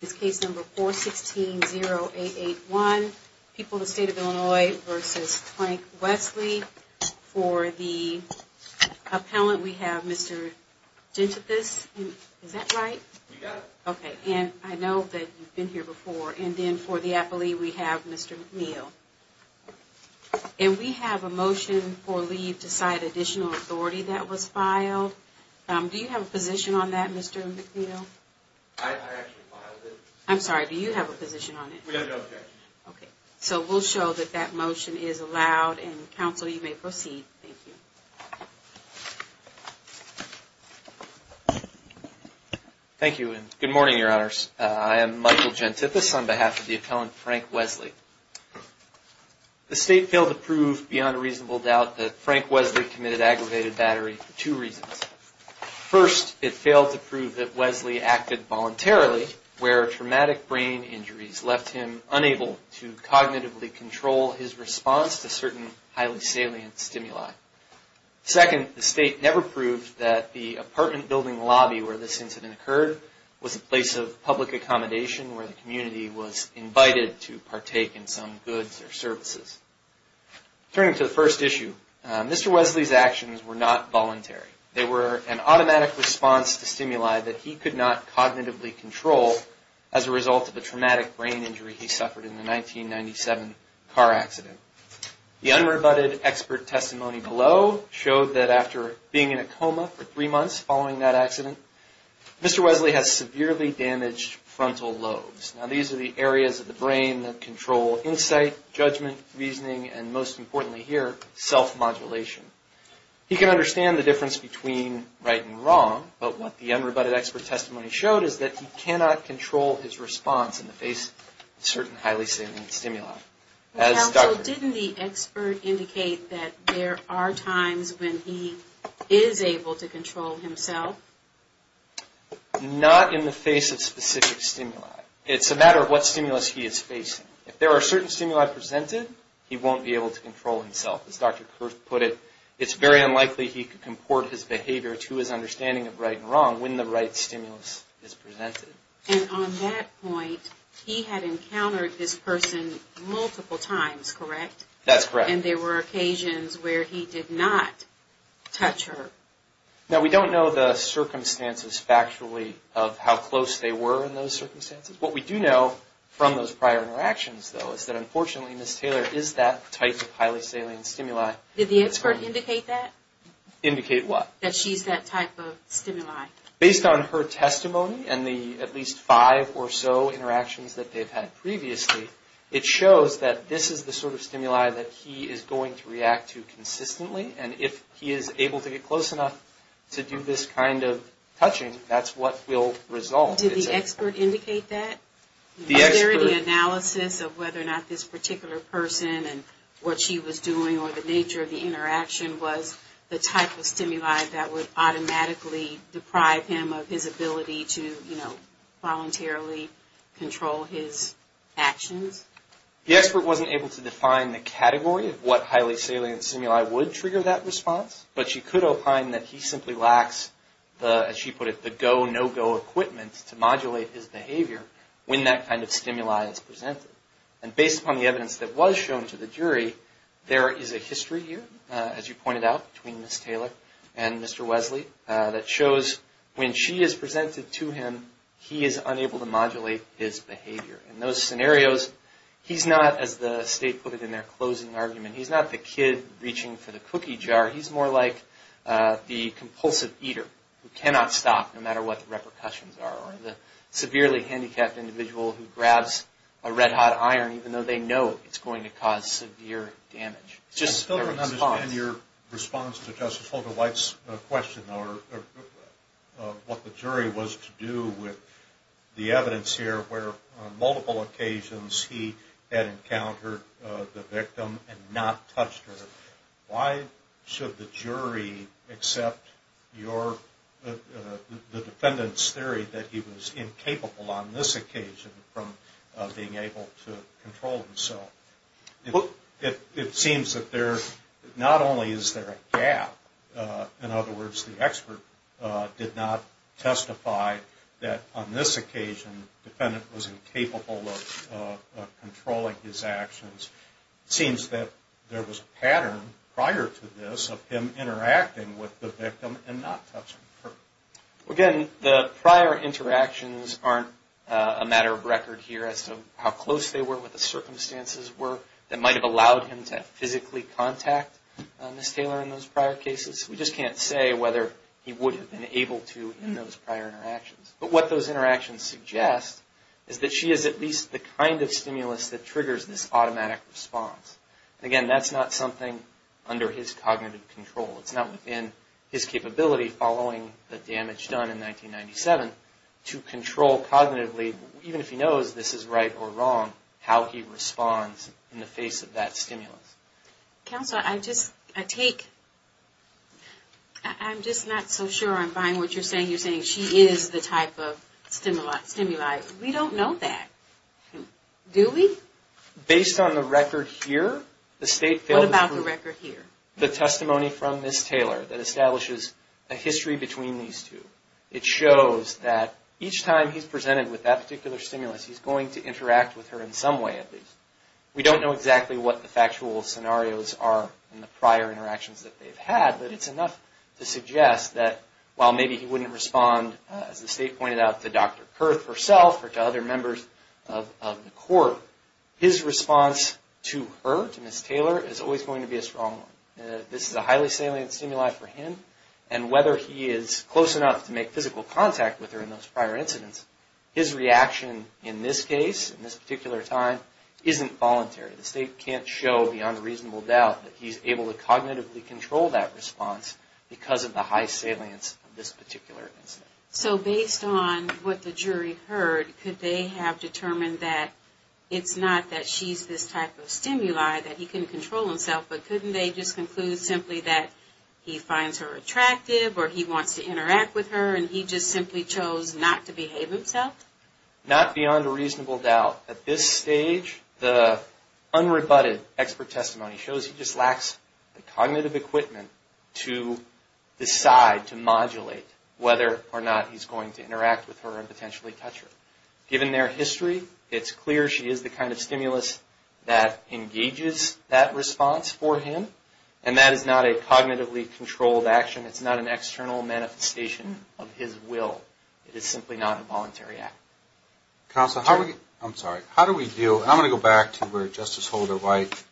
is case number 416-0881, People of the State of Illinois v. Frank Wesley. For the appellant, we have Mr. Gentethis. Is that right? You got it. Okay. And I know that you've been here before. And then for the appellee, we have Mr. McNeil. And we have a motion for leave to cite additional authority that was filed. Do you have a position on that, Mr. McNeil? I actually filed it. I'm sorry. Do you have a position on it? We have no objection. Okay. So we'll show that that motion is allowed, and counsel, you may proceed. Thank you. Thank you, and good morning, Your Honors. I am Michael Gentethis on behalf of the appellant, Frank Wesley. The state failed to prove beyond a reasonable doubt that Frank Wesley committed aggravated battery for two reasons. First, it failed to prove that Wesley acted voluntarily, where traumatic brain injuries left him unable to cognitively control his response to certain highly salient stimuli. Second, the state never proved that the apartment building lobby where this incident occurred was a place of public accommodation where the community was invited to partake in some goods or services. Turning to the first issue, Mr. Wesley's actions were not voluntary. They were an automatic response to stimuli that he could not cognitively control as a result of a traumatic brain injury he suffered in the 1997 car accident. The unrebutted expert testimony below showed that after being in a coma for three months following that accident, Mr. Wesley has severely damaged frontal lobes. Now, these are the areas of the brain that control insight, judgment, reasoning, and most importantly here, self-modulation. He can understand the difference between right and wrong, but what the unrebutted expert testimony showed is that he cannot control his response in the face of certain highly salient stimuli. Counsel, didn't the expert indicate that there are times when he is able to control himself? Not in the face of specific stimuli. It's a matter of what stimulus he is facing. If there are certain stimuli presented, he won't be able to control himself. As Dr. Kirk put it, it's very unlikely he could comport his behavior to his understanding of right and wrong when the right stimulus is presented. And on that point, he had encountered this person multiple times, correct? That's correct. And there were occasions where he did not touch her? No, we don't know the circumstances factually of how close they were in those circumstances. What we do know from those prior interactions, though, is that unfortunately, Ms. Taylor is that type of highly salient stimuli. Did the expert indicate that? Indicate what? That she's that type of stimuli. Based on her testimony and the at least five or so interactions that they've had previously, it shows that this is the sort of stimuli that he is going to react to consistently. And if he is able to get close enough to do this kind of touching, that's what will result. Did the expert indicate that? The expert... Was there any analysis of whether or not this particular person and what she was doing or the nature of the interaction was the type of stimuli that would automatically deprive him of his ability to, you know, voluntarily control his actions? The expert wasn't able to define the category of what highly salient stimuli would trigger that response, but she could opine that he simply lacks the, as she put it, the go, no-go equipment to modulate his behavior when that kind of stimuli is presented. And based upon the evidence that was shown to the jury, there is a history here, as you pointed out, between Ms. Taylor and Mr. Wesley, that shows when she is presented to him, he is unable to modulate his behavior. In those scenarios, he's not, as the state put it in their closing argument, he's not the kid reaching for the cookie jar. He's more like the compulsive eater who cannot stop no matter what the repercussions are or the severely handicapped individual who grabs a red-hot iron even though they know it's going to cause severe damage. I still don't understand your response to Justice Holder-White's question or what the jury was to do with the evidence here where on multiple occasions he had encountered the victim and not touched her. Why should the jury accept your, the defendant's theory that he was incapable on this occasion from being able to control himself? It seems that there, not only is there a gap, in other words, the expert did not testify that on this occasion the defendant was incapable of controlling his actions. It seems that there was a pattern prior to this of him interacting with the victim and not touching her. Again, the prior interactions aren't a matter of record here as to how close they were, what the circumstances were that might have allowed him to physically contact Ms. Taylor in those prior cases. We just can't say whether he would have been able to in those prior interactions. But what those interactions suggest is that she is at least the kind of stimulus that triggers this automatic response. Again, that's not something under his cognitive control. It's not within his capability following the damage done in 1997 to control cognitively, even if he knows this is right or wrong, how he responds in the face of that stimulus. Counselor, I just, I take, I'm just not so sure I'm buying what you're saying. You're saying she is the type of stimuli. We don't know that, do we? Based on the record here, the state failed to prove. What about the record here? The testimony from Ms. Taylor that establishes a history between these two. It shows that each time he's presented with that particular stimulus, he's going to interact with her in some way at least. We don't know exactly what the factual scenarios are in the prior interactions that they've had, but it's enough to suggest that while maybe he wouldn't respond, as the state pointed out to Dr. Kurth herself or to other members of the court, his response to her, to Ms. Taylor, is always going to be a strong one. This is a highly salient stimuli for him, and whether he is close enough to make physical contact with her in those prior incidents, his reaction in this case, in this particular time, isn't voluntary. The state can't show beyond a reasonable doubt that he's able to cognitively control that response because of the high salience of this particular incident. So based on what the jury heard, could they have determined that it's not that she's this type of stimuli that he can control himself, but couldn't they just conclude simply that he finds her attractive or he wants to interact with her and he just simply chose not to behave himself? Not beyond a reasonable doubt. At this stage, the unrebutted expert testimony shows he just lacks the cognitive equipment to decide, to modulate, whether or not he's going to interact with her and potentially touch her. Given their history, it's clear she is the kind of stimulus that engages that response for him, and that is not a cognitively controlled action. It's not an external manifestation of his will. It is simply not a voluntary act. Counsel, how do we, I'm sorry, how do we deal, and I'm going to go back to where Justice Holder White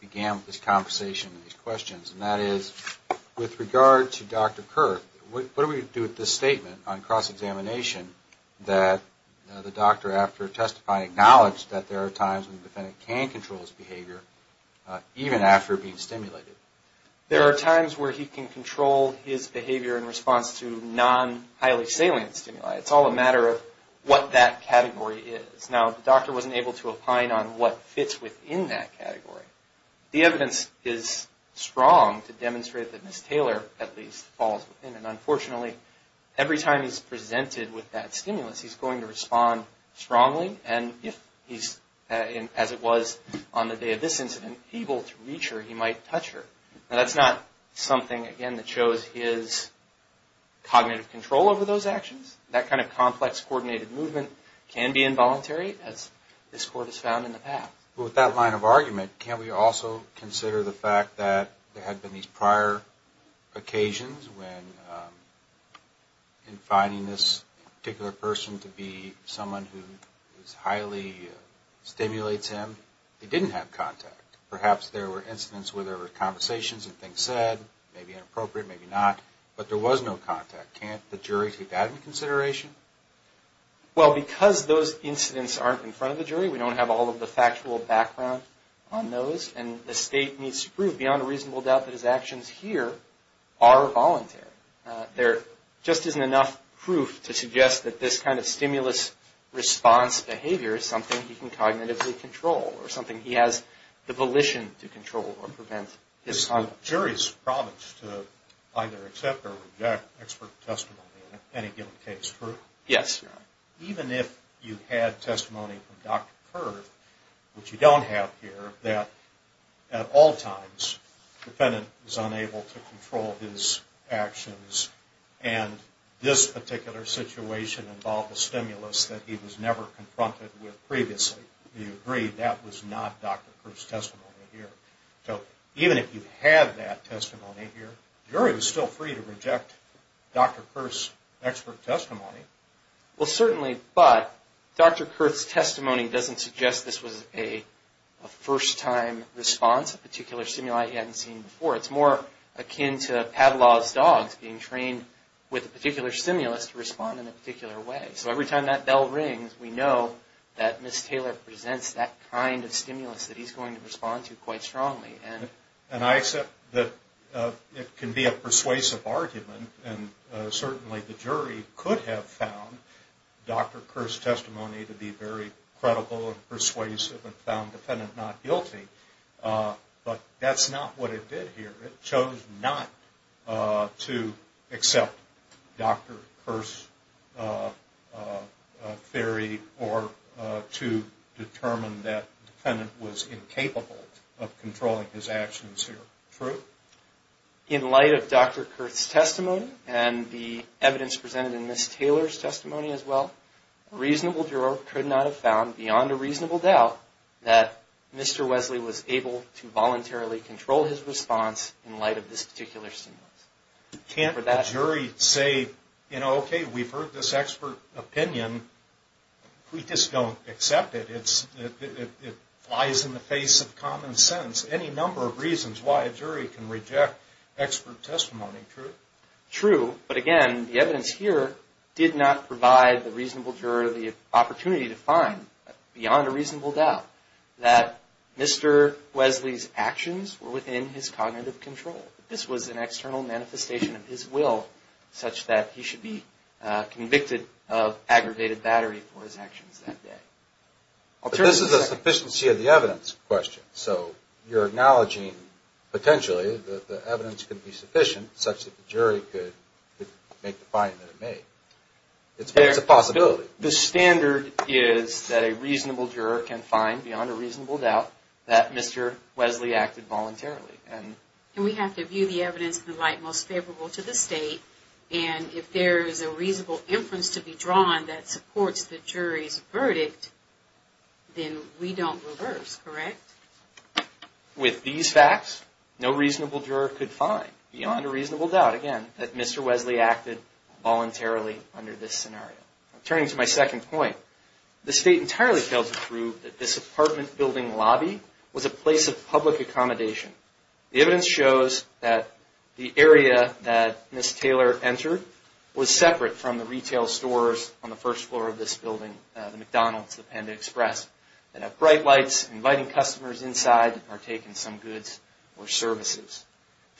began with this conversation and these questions, and that is, with regard to Dr. Kerr, what do we do with this statement on cross-examination that the doctor, after testifying, acknowledged that there are times when the defendant can control his behavior, even after being stimulated? There are times where he can control his behavior in response to non-highly salient stimuli. It's all a matter of what that category is. Now, the doctor wasn't able to opine on what fits within that category. The evidence is strong to demonstrate that Ms. Taylor, at least, falls within, and unfortunately, every time he's presented with that stimulus, he's going to respond strongly, and if he's, as it was on the day of this incident, able to reach her, he might touch her. Now, that's not something, again, that shows his cognitive control over those actions. That kind of complex coordinated movement can be involuntary, as this Court has found in the past. With that line of argument, can we also consider the fact that there had been these prior occasions when, in finding this particular person to be someone who highly stimulates him, he didn't have contact? Perhaps there were incidents where there were conversations and things said, maybe inappropriate, maybe not, but there was no contact. Can't the jury take that into consideration? Well, because those incidents aren't in front of the jury, we don't have all of the factual background on those, and the State needs to prove, beyond a reasonable doubt, that his actions here are voluntary. There just isn't enough proof to suggest that this kind of stimulus response behavior is something he can cognitively control, or something he has the volition to control or prevent his conduct. The jury is privileged to either accept or reject expert testimony in any given case, true? Yes. Even if you had testimony from Dr. Kurth, which you don't have here, that at all times the defendant was unable to control his actions, and this particular situation involved a stimulus that he was never confronted with previously, do you agree that was not Dr. Kurth's testimony here? So, even if you have that testimony here, the jury was still free to reject Dr. Kurth's expert testimony. Well, certainly, but Dr. Kurth's testimony doesn't suggest this was a first-time response, a particular stimuli he hadn't seen before. It's more akin to Pavlov's dogs being trained with a particular stimulus to respond in a particular way. So every time that bell rings, we know that Ms. Taylor presents that kind of stimulus that he's going to respond to quite strongly. And I accept that it can be a persuasive argument, and certainly the jury could have found Dr. Kurth's testimony to be very credible and persuasive, and found the defendant not guilty. But that's not what it did here. It chose not to accept Dr. Kurth's theory, or to determine that the defendant was incapable of controlling his actions here, true? In light of Dr. Kurth's testimony, and the evidence presented in Ms. Taylor's testimony as well, a reasonable juror could not have found, beyond a reasonable doubt, that Mr. Wesley was able to voluntarily control his response in light of this particular stimulus. Can't a jury say, you know, okay, we've heard this expert opinion, we just don't accept it. It flies in the face of common sense. Any number of reasons why a jury can reject expert testimony, true? True, but again, the evidence here did not provide the reasonable juror the opportunity to find, beyond a reasonable doubt, that Mr. Wesley's actions were within his cognitive control. This was an external manifestation of his will, such that he should be convicted of aggravated battery for his actions that day. But this is a sufficiency of the evidence question, so you're acknowledging potentially that the evidence could be sufficient, such that the jury could make the finding that it made. It's a possibility. The standard is that a reasonable juror can find, beyond a reasonable doubt, that Mr. Wesley acted voluntarily. And we have to view the evidence in the light most favorable to the State, and if there is a reasonable inference to be drawn that supports the jury's verdict, then we don't reverse, correct? With these facts, no reasonable juror could find, beyond a reasonable doubt, again, that Mr. Wesley acted voluntarily under this scenario. Turning to my second point, the State entirely fails to prove that this apartment building lobby was a place of public accommodation. The evidence shows that the area that Ms. Taylor entered was separate from the retail stores on the first floor of this building, the McDonald's, the Panda Express, that have bright lights inviting customers inside to partake in some goods or services.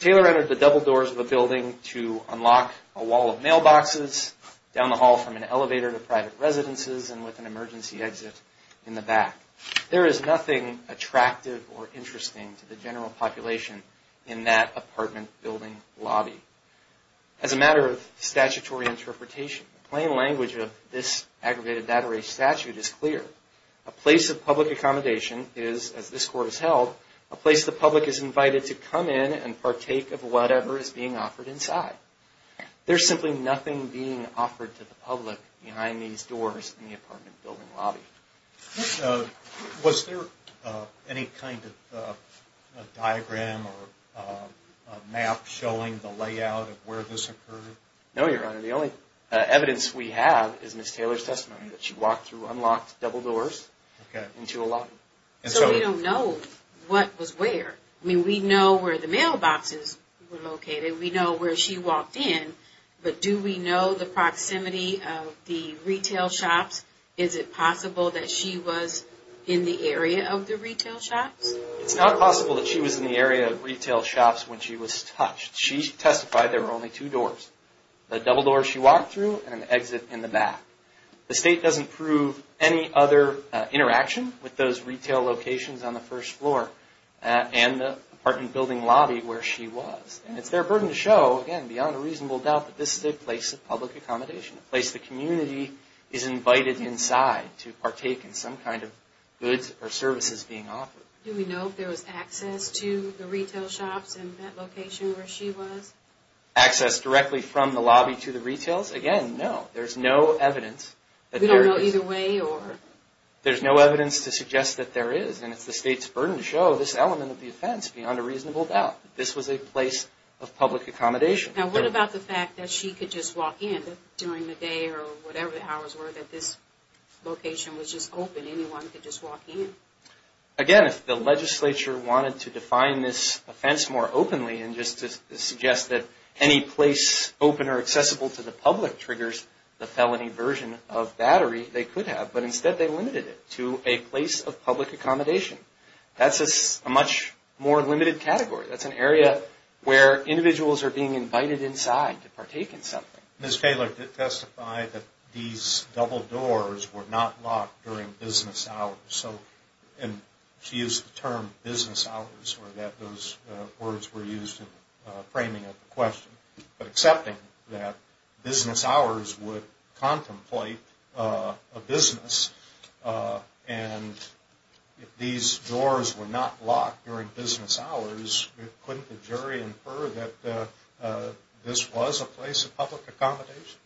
Taylor entered the double doors of the building to unlock a wall of mailboxes, down the hall from an elevator to private residences, and with an emergency exit in the back. There is nothing attractive or interesting to the general population in that apartment building lobby. As a matter of statutory interpretation, plain language of this Aggravated Data Race statute is clear. A place of public accommodation is, as this Court has held, a place the public is invited to come in and partake of whatever is being offered inside. There is simply nothing being offered to the public behind these doors in the apartment building lobby. Was there any kind of diagram or map showing the layout of where this occurred? No, Your Honor. The only evidence we have is Ms. Taylor's testimony, that she walked through unlocked double doors into a lobby. So we don't know what was where. I mean, we know where the mailboxes were located. We know where she walked in, but do we know the proximity of the retail shops? Is it possible that she was in the area of the retail shops? It's not possible that she was in the area of retail shops when she was touched. She testified there were only two doors, a double door she walked through and an exit in the back. The State doesn't prove any other interaction with those retail locations on the first floor and the apartment building lobby where she was. And it's their burden to show, again, beyond a reasonable doubt, that this is a place of public accommodation, a place the community is invited inside to partake in some kind of goods or services being offered. Do we know if there was access to the retail shops in that location where she was? Access directly from the lobby to the retails? Again, no. There's no evidence. We don't know either way? There's no evidence to suggest that there is. And it's the State's burden to show this element of the offense beyond a reasonable doubt that this was a place of public accommodation. Now, what about the fact that she could just walk in during the day or whatever the hours were that this location was just open, anyone could just walk in? Again, if the legislature wanted to define this offense more openly and just to suggest that any place open or accessible to the public triggers the felony version of battery, they could have, but instead they limited it to a place of public accommodation. That's a much more limited category. That's an area where individuals are being invited inside to partake in something. Ms. Taylor did testify that these double doors were not locked during business hours. And she used the term business hours or that those words were used in framing of the question. But accepting that business hours would contemplate a business and if these doors were not locked during business hours, couldn't the jury infer that this was a place of public accommodation?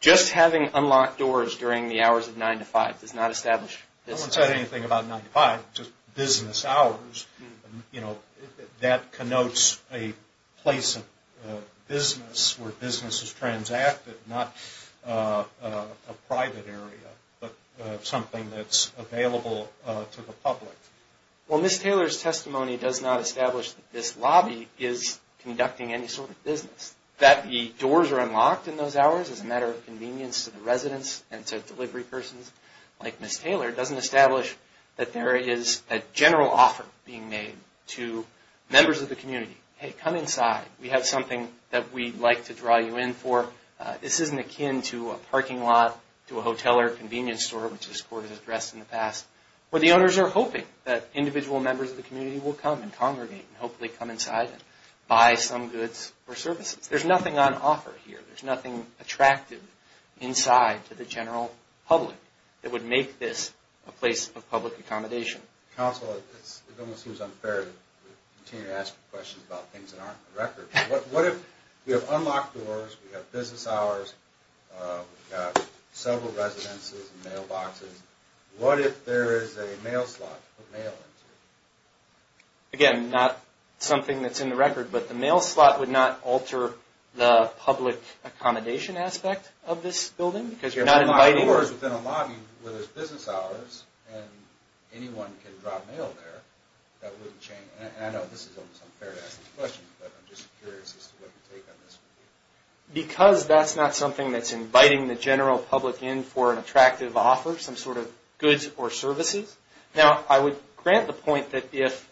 Just having unlocked doors during the hours of 9 to 5 does not establish business hours. No one said anything about 9 to 5, just business hours. That connotes a place of business where business is transacted, not a private area, but something that's available to the public. Well, Ms. Taylor's testimony does not establish that this lobby is conducting any sort of business. That the doors are unlocked in those hours as a matter of convenience to the residents and to delivery persons like Ms. Taylor doesn't establish that there is a general offer being made to members of the community. Hey, come inside. We have something that we'd like to draw you in for. This isn't akin to a parking lot, to a hotel or a convenience store, which this Court has addressed in the past, where the owners are hoping that individual members of the community will come and congregate and hopefully come inside and buy some goods or services. There's nothing on offer here. There's nothing attractive inside to the general public that would make this a place of public accommodation. Counsel, it almost seems unfair to continue to ask questions about things that aren't on record. What if we have unlocked doors, we have business hours, we've got several residences and mailboxes, what if there is a mail slot to put mail into? Again, not something that's in the record, but the mail slot would not alter the public accommodation aspect of this building. Because you're not inviting... If you have unlocked doors within a lobby where there's business hours and anyone can drop mail there, that wouldn't change. And I know this is almost unfair to ask these questions, but I'm just curious as to what your take on this would be. Because that's not something that's inviting the general public in for an attractive offer, some sort of goods or services. Now, I would grant the point that if,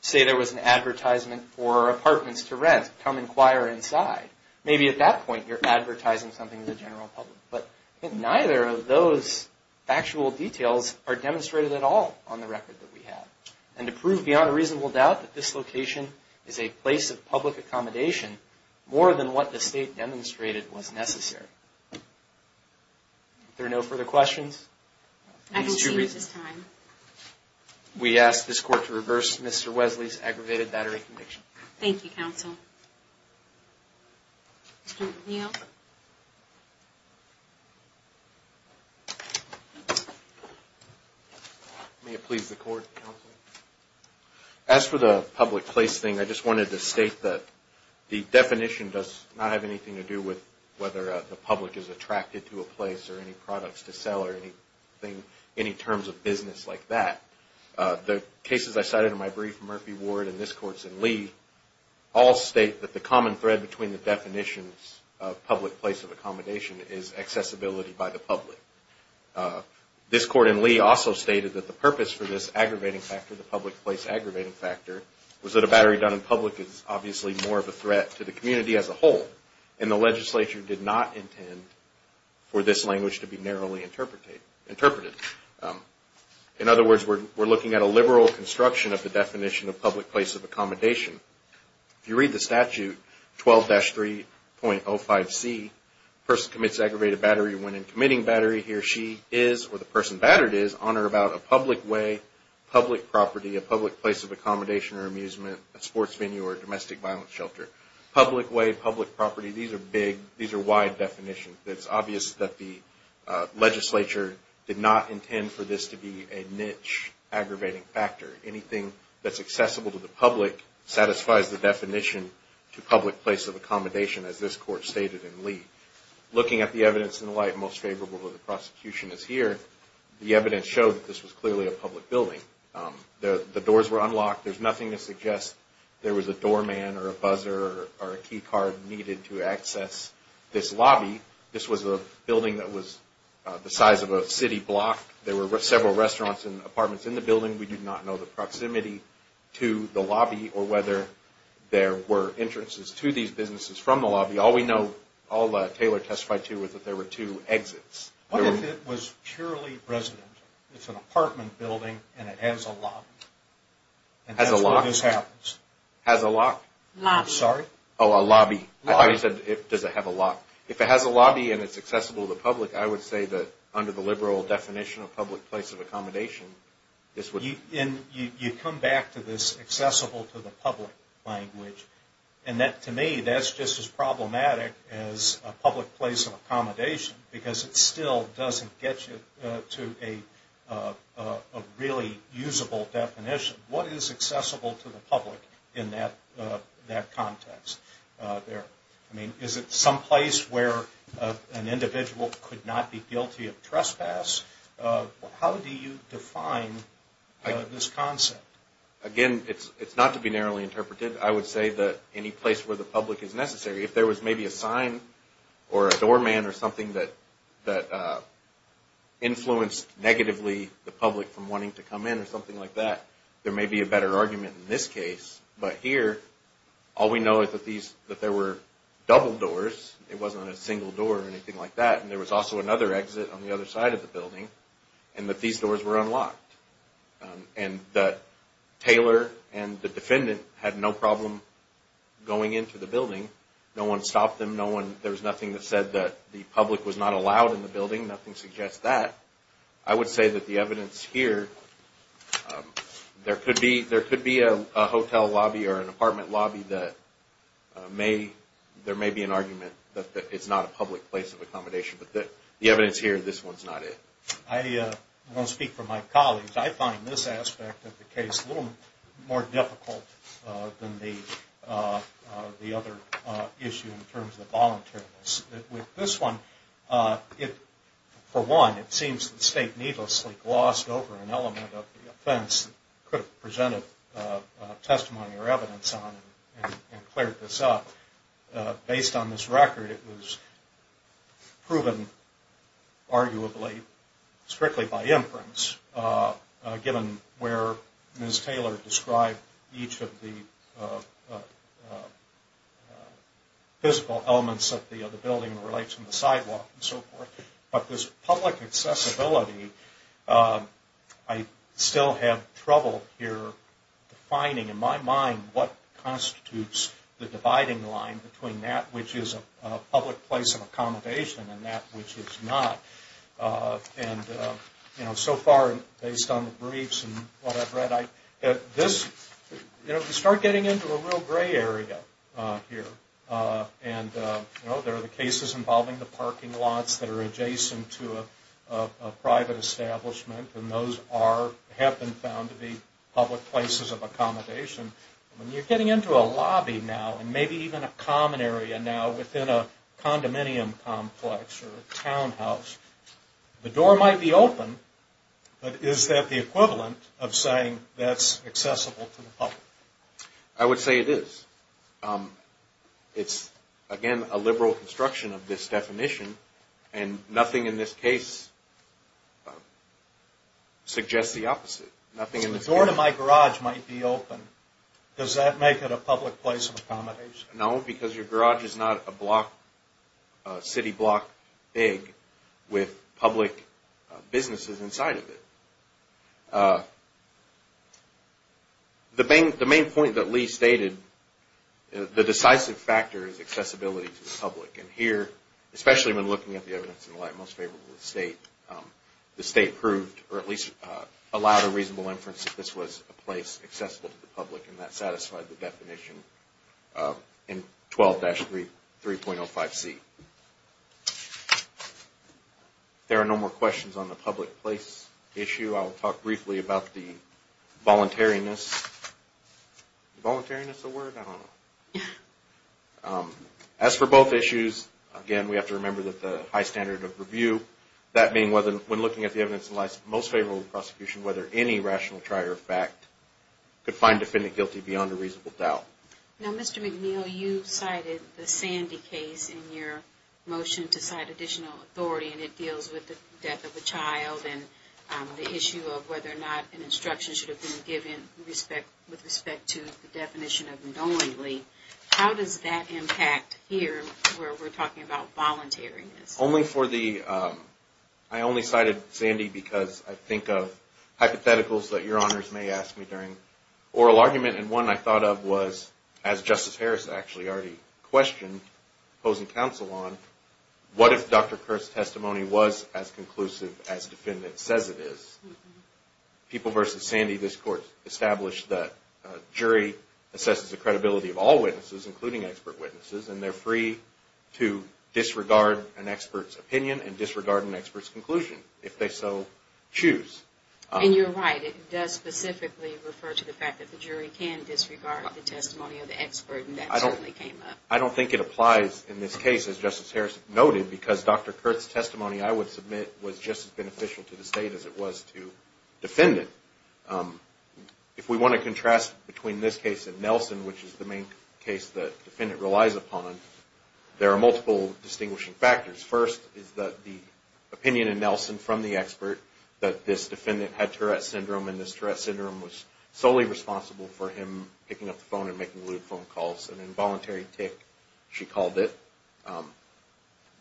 say, there was an advertisement for apartments to rent, come inquire inside. Maybe at that point you're advertising something to the general public. But I think neither of those factual details are demonstrated at all on the record that we have. And to prove beyond a reasonable doubt that this location is a place of public accommodation, more than what the state demonstrated was necessary. Are there no further questions? I don't see much this time. We ask this Court to reverse Mr. Wesley's aggravated battery conviction. Thank you, Counsel. Mr. O'Neill. May it please the Court, Counsel. As for the public place thing, I just wanted to state that the definition does not have anything to do with whether the public is attracted to a place or any products to sell or anything, any terms of business like that. The cases I cited in my brief, Murphy Ward and this Court's in Lee, all state that the common thread between the definitions of public place of accommodation is accessibility by the public. This Court in Lee also stated that the purpose for this aggravating factor, the public place aggravating factor, was that a battery done in public is obviously more of a threat to the community as a whole. And the legislature did not intend for this language to be narrowly interpreted. In other words, we're looking at a liberal construction of the definition of public place of accommodation. If you read the statute 12-3.05c, a person commits aggravated battery when in committing battery, he or she is, or the person battered is, on or about a public way, public property, a public place of accommodation or amusement, a sports venue or a domestic violence shelter. Public way, public property, these are big, these are wide definitions. It's obvious that the legislature did not intend for this to be a niche aggravating factor. Anything that's accessible to the public satisfies the definition to public place of accommodation, as this Court stated in Lee. Looking at the evidence in the light most favorable to the prosecution as here, the evidence showed that this was clearly a public building. The doors were unlocked. There's nothing to suggest there was a doorman or a buzzer or a key card needed to access this lobby. This was a building that was the size of a city block. There were several restaurants and apartments in the building. We do not know the proximity to the lobby or whether there were entrances to these businesses from the lobby. All we know, all Taylor testified to was that there were two exits. What if it was purely residential? It's an apartment building and it has a lobby? Has a lock. And that's where this happens. Has a lock. Lobby. I'm sorry? Oh, a lobby. I thought you said, does it have a lock? If it has a lobby and it's accessible to the public, I would say that under the liberal definition of public place of accommodation, this would... You come back to this accessible to the public language, and to me that's just as problematic as a public place of accommodation because it still doesn't get you to a really usable definition. What is accessible to the public in that context? I mean, is it someplace where an individual could not be guilty of trespass? How do you define this concept? Again, it's not to be narrowly interpreted. I would say that any place where the public is necessary, if there was maybe a sign or a doorman or something that influenced negatively the public from wanting to come in or something like that, there may be a better argument in this case. But here, all we know is that there were double doors. It wasn't a single door or anything like that. And there was also another exit on the other side of the building and that these doors were unlocked. And that Taylor and the defendant had no problem going into the building. No one stopped them. There was nothing that said that the public was not allowed in the building. Nothing suggests that. I would say that the evidence here, there could be a hotel lobby or an apartment lobby that there may be an argument that it's not a public place of accommodation. But the evidence here, this one's not it. I won't speak for my colleagues. I find this aspect of the case a little more difficult than the other issue in terms of the voluntariness. With this one, for one, it seems the State needlessly glossed over an element of the offense that it could have presented testimony or evidence on and cleared this up. Based on this record, it was proven, arguably, strictly by inference, given where Ms. Taylor described each of the physical elements of the building that relates to the sidewalk and so forth. But this public accessibility, I still have trouble here defining in my mind what constitutes the dividing line between that which is a public place of accommodation and that which is not. So far, based on the briefs and what I've read, you start getting into a real gray area here. There are the cases involving the parking lots that are adjacent to a private establishment, and those have been found to be public places of accommodation. You're getting into a lobby now and maybe even a common area now within a condominium complex or a townhouse. The door might be open, but is that the equivalent of saying that's accessible to the public? I would say it is. It's, again, a liberal construction of this definition, and nothing in this case suggests the opposite. If the door to my garage might be open, does that make it a public place of accommodation? No, because your garage is not a city block big with public businesses inside of it. The main point that Lee stated, the decisive factor is accessibility to the public. And here, especially when looking at the evidence in the light most favorable to the state, the state proved or at least allowed a reasonable inference that this was a place accessible to the public, and that satisfied the definition in 12-3.05C. If there are no more questions on the public place issue, I will talk briefly about the voluntariness. Is voluntariness a word? I don't know. As for both issues, again, we have to remember that the high standard of review, that being when looking at the evidence in the light most favorable to the prosecution, whether any rational trier of fact could find a defendant guilty beyond a reasonable doubt. Now, Mr. McNeil, you cited the Sandy case in your motion to cite additional authority, and it deals with the death of a child and the issue of whether or not an instruction should have been given with respect to the definition of knowingly. How does that impact here where we're talking about voluntariness? I only cited Sandy because I think of hypotheticals that your honors may ask me during oral argument, and one I thought of was, as Justice Harris actually already questioned, posing counsel on, what if Dr. Kurtz's testimony was as conclusive as the defendant says it is? People versus Sandy, this Court established that a jury assesses the credibility of all witnesses, including expert witnesses, and they're free to disregard an expert's opinion and disregard an expert's conclusion if they so choose. And you're right. It does specifically refer to the fact that the jury can disregard the testimony of the expert, and that certainly came up. I don't think it applies in this case, as Justice Harris noted, because Dr. Kurtz's testimony, I would submit, was just as beneficial to the State as it was to the defendant. If we want to contrast between this case and Nelson, which is the main case the defendant relies upon, there are multiple distinguishing factors. The first is that the opinion in Nelson from the expert that this defendant had Tourette's Syndrome and this Tourette's Syndrome was solely responsible for him picking up the phone and making lewd phone calls, an involuntary tick, she called it.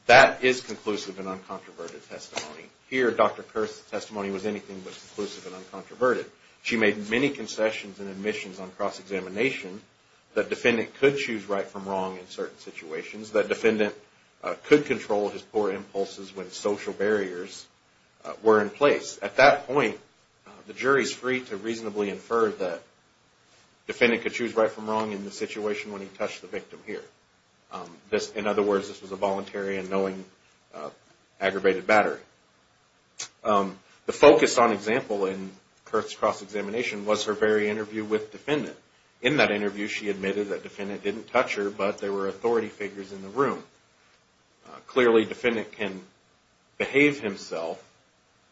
That is conclusive and uncontroverted testimony. Here, Dr. Kurtz's testimony was anything but conclusive and uncontroverted. She made many concessions and admissions on cross-examination. The defendant could choose right from wrong in certain situations. That defendant could control his poor impulses when social barriers were in place. At that point, the jury is free to reasonably infer that the defendant could choose right from wrong in the situation when he touched the victim here. In other words, this was a voluntary and knowing aggravated battery. The focus on example in Kurtz's cross-examination was her very interview with the defendant. In that interview, she admitted that the defendant didn't touch her, but there were authority figures in the room. Clearly, the defendant can behave himself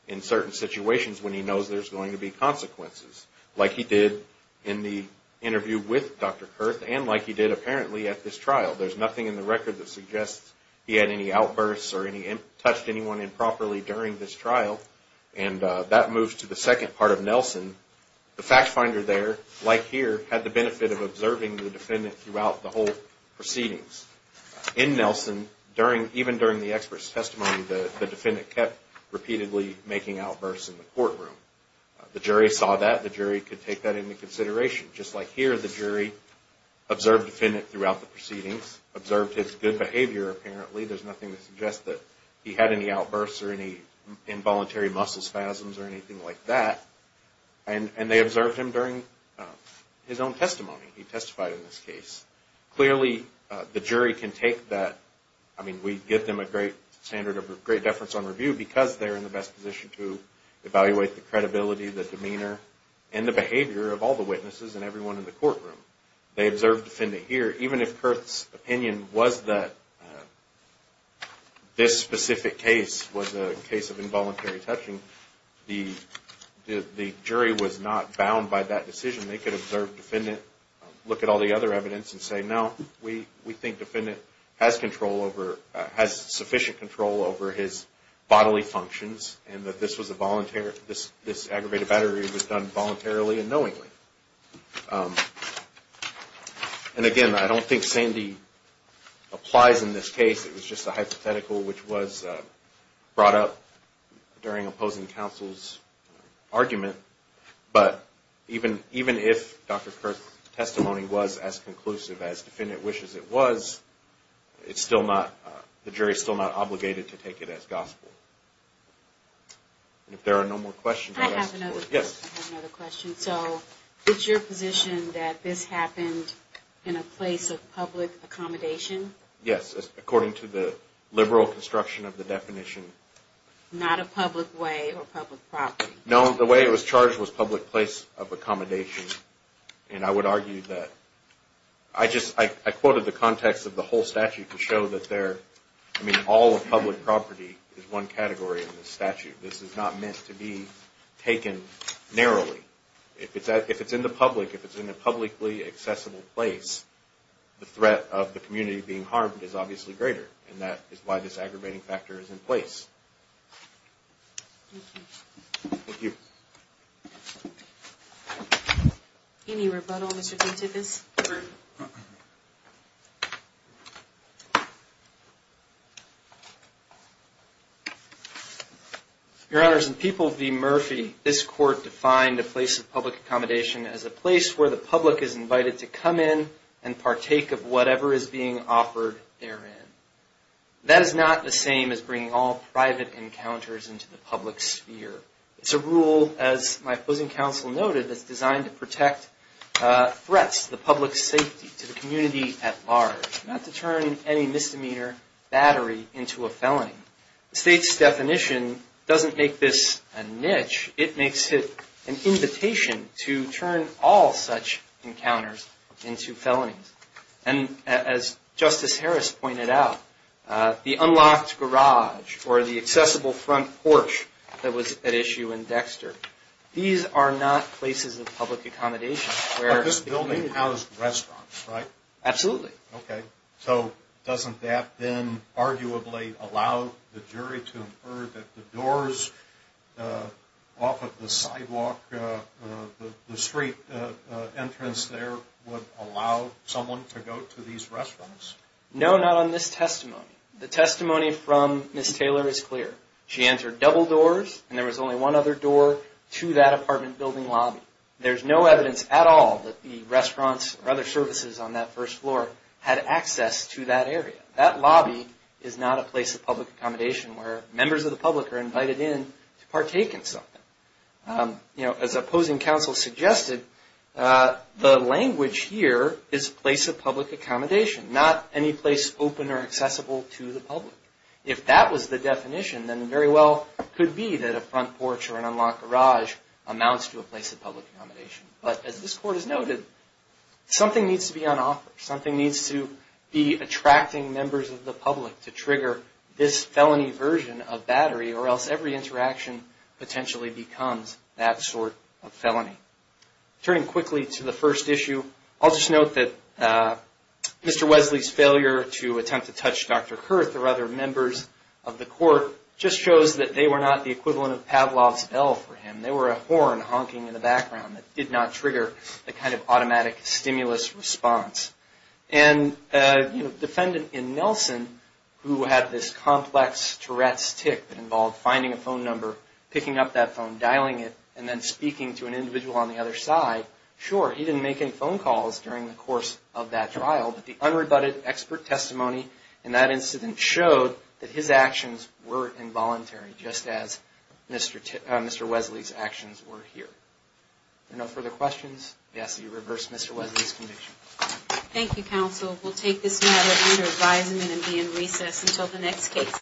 in certain situations when he knows there's going to be consequences, like he did in the interview with Dr. Kurtz and like he did apparently at this trial. There's nothing in the record that suggests he had any outbursts or touched anyone improperly during this trial. That moves to the second part of Nelson. The fact finder there, like here, had the benefit of observing the defendant throughout the whole proceedings. In Nelson, even during the expert's testimony, the defendant kept repeatedly making outbursts in the courtroom. The jury saw that. The jury could take that into consideration. Just like here, the jury observed the defendant throughout the proceedings, observed his good behavior apparently. There's nothing to suggest that he had any outbursts or any involuntary muscle spasms or anything like that. And they observed him during his own testimony. He testified in this case. Clearly, the jury can take that. I mean, we give them a great standard of great deference on review because they're in the best position to evaluate the credibility, the demeanor, and the behavior of all the witnesses and everyone in the courtroom. They observed the defendant here. Even if Kurth's opinion was that this specific case was a case of involuntary touching, the jury was not bound by that decision. They could observe the defendant, look at all the other evidence, and say, no, we think the defendant has sufficient control over his bodily functions and that this aggravated battery was done voluntarily and knowingly. And again, I don't think Sandy applies in this case. It was just a hypothetical which was brought up during opposing counsel's argument. But even if Dr. Kurth's testimony was as conclusive as defendant wishes it was, the jury is still not obligated to take it as gospel. If there are no more questions. I have another question. So it's your position that this happened in a place of public accommodation? Yes, according to the liberal construction of the definition. Not a public way or public property? No, the way it was charged was public place of accommodation. And I would argue that I quoted the context of the whole statute to show that all of public property is one category in the statute. This is not meant to be taken narrowly. If it's in the public, if it's in a publicly accessible place, the threat of the community being harmed is obviously greater. And that is why this aggravating factor is in place. Thank you. Thank you. Any rebuttal, Mr. DeTetris? No. Your Honors, in People v. Murphy, this court defined a place of public accommodation as a place where the public is invited to come in and partake of whatever is being offered therein. That is not the same as bringing all private encounters into the public sphere. It's a rule, as my opposing counsel noted, that's designed to protect threats to the public's safety, to the community at large, not to turn any misdemeanor battery into a felony. The State's definition doesn't make this a niche. It makes it an invitation to turn all such encounters into felonies. And as Justice Harris pointed out, the unlocked garage or the accessible front porch that was at issue in Dexter, these are not places of public accommodation. But this building housed restaurants, right? Absolutely. Okay. So doesn't that then arguably allow the jury to infer that the doors off of the sidewalk, the street entrance there would allow someone to go to these restaurants? No, not on this testimony. The testimony from Ms. Taylor is clear. She entered double doors, and there was only one other door to that apartment building lobby. There's no evidence at all that the restaurants or other services on that first floor had access to that area. That lobby is not a place of public accommodation where members of the public are invited in to partake in something. As opposing counsel suggested, the language here is place of public accommodation, not any place open or accessible to the public. If that was the definition, then it very well could be that a front porch or an unlocked garage amounts to a place of public accommodation. But as this Court has noted, something needs to be on offer. Something needs to be attracting members of the public to trigger this felony version of battery or else every interaction potentially becomes that sort of felony. Turning quickly to the first issue, I'll just note that Mr. Wesley's failure to attempt to touch Dr. Kurth or other members of the Court just shows that they were not the equivalent of Pavlov's L for him. They were a horn honking in the background that did not trigger the kind of automatic stimulus response. And a defendant in Nelson who had this complex Tourette's tick that involved finding a phone number, picking up that phone, dialing it, and then speaking to an individual on the other side, sure, he didn't make any phone calls during the course of that trial. But the unrebutted expert testimony in that incident showed that his actions were involuntary just as Mr. Wesley's actions were here. If there are no further questions, I ask that you reverse Mr. Wesley's conviction. Thank you, Counsel. We'll take this matter under advisement and be in recess until the next case.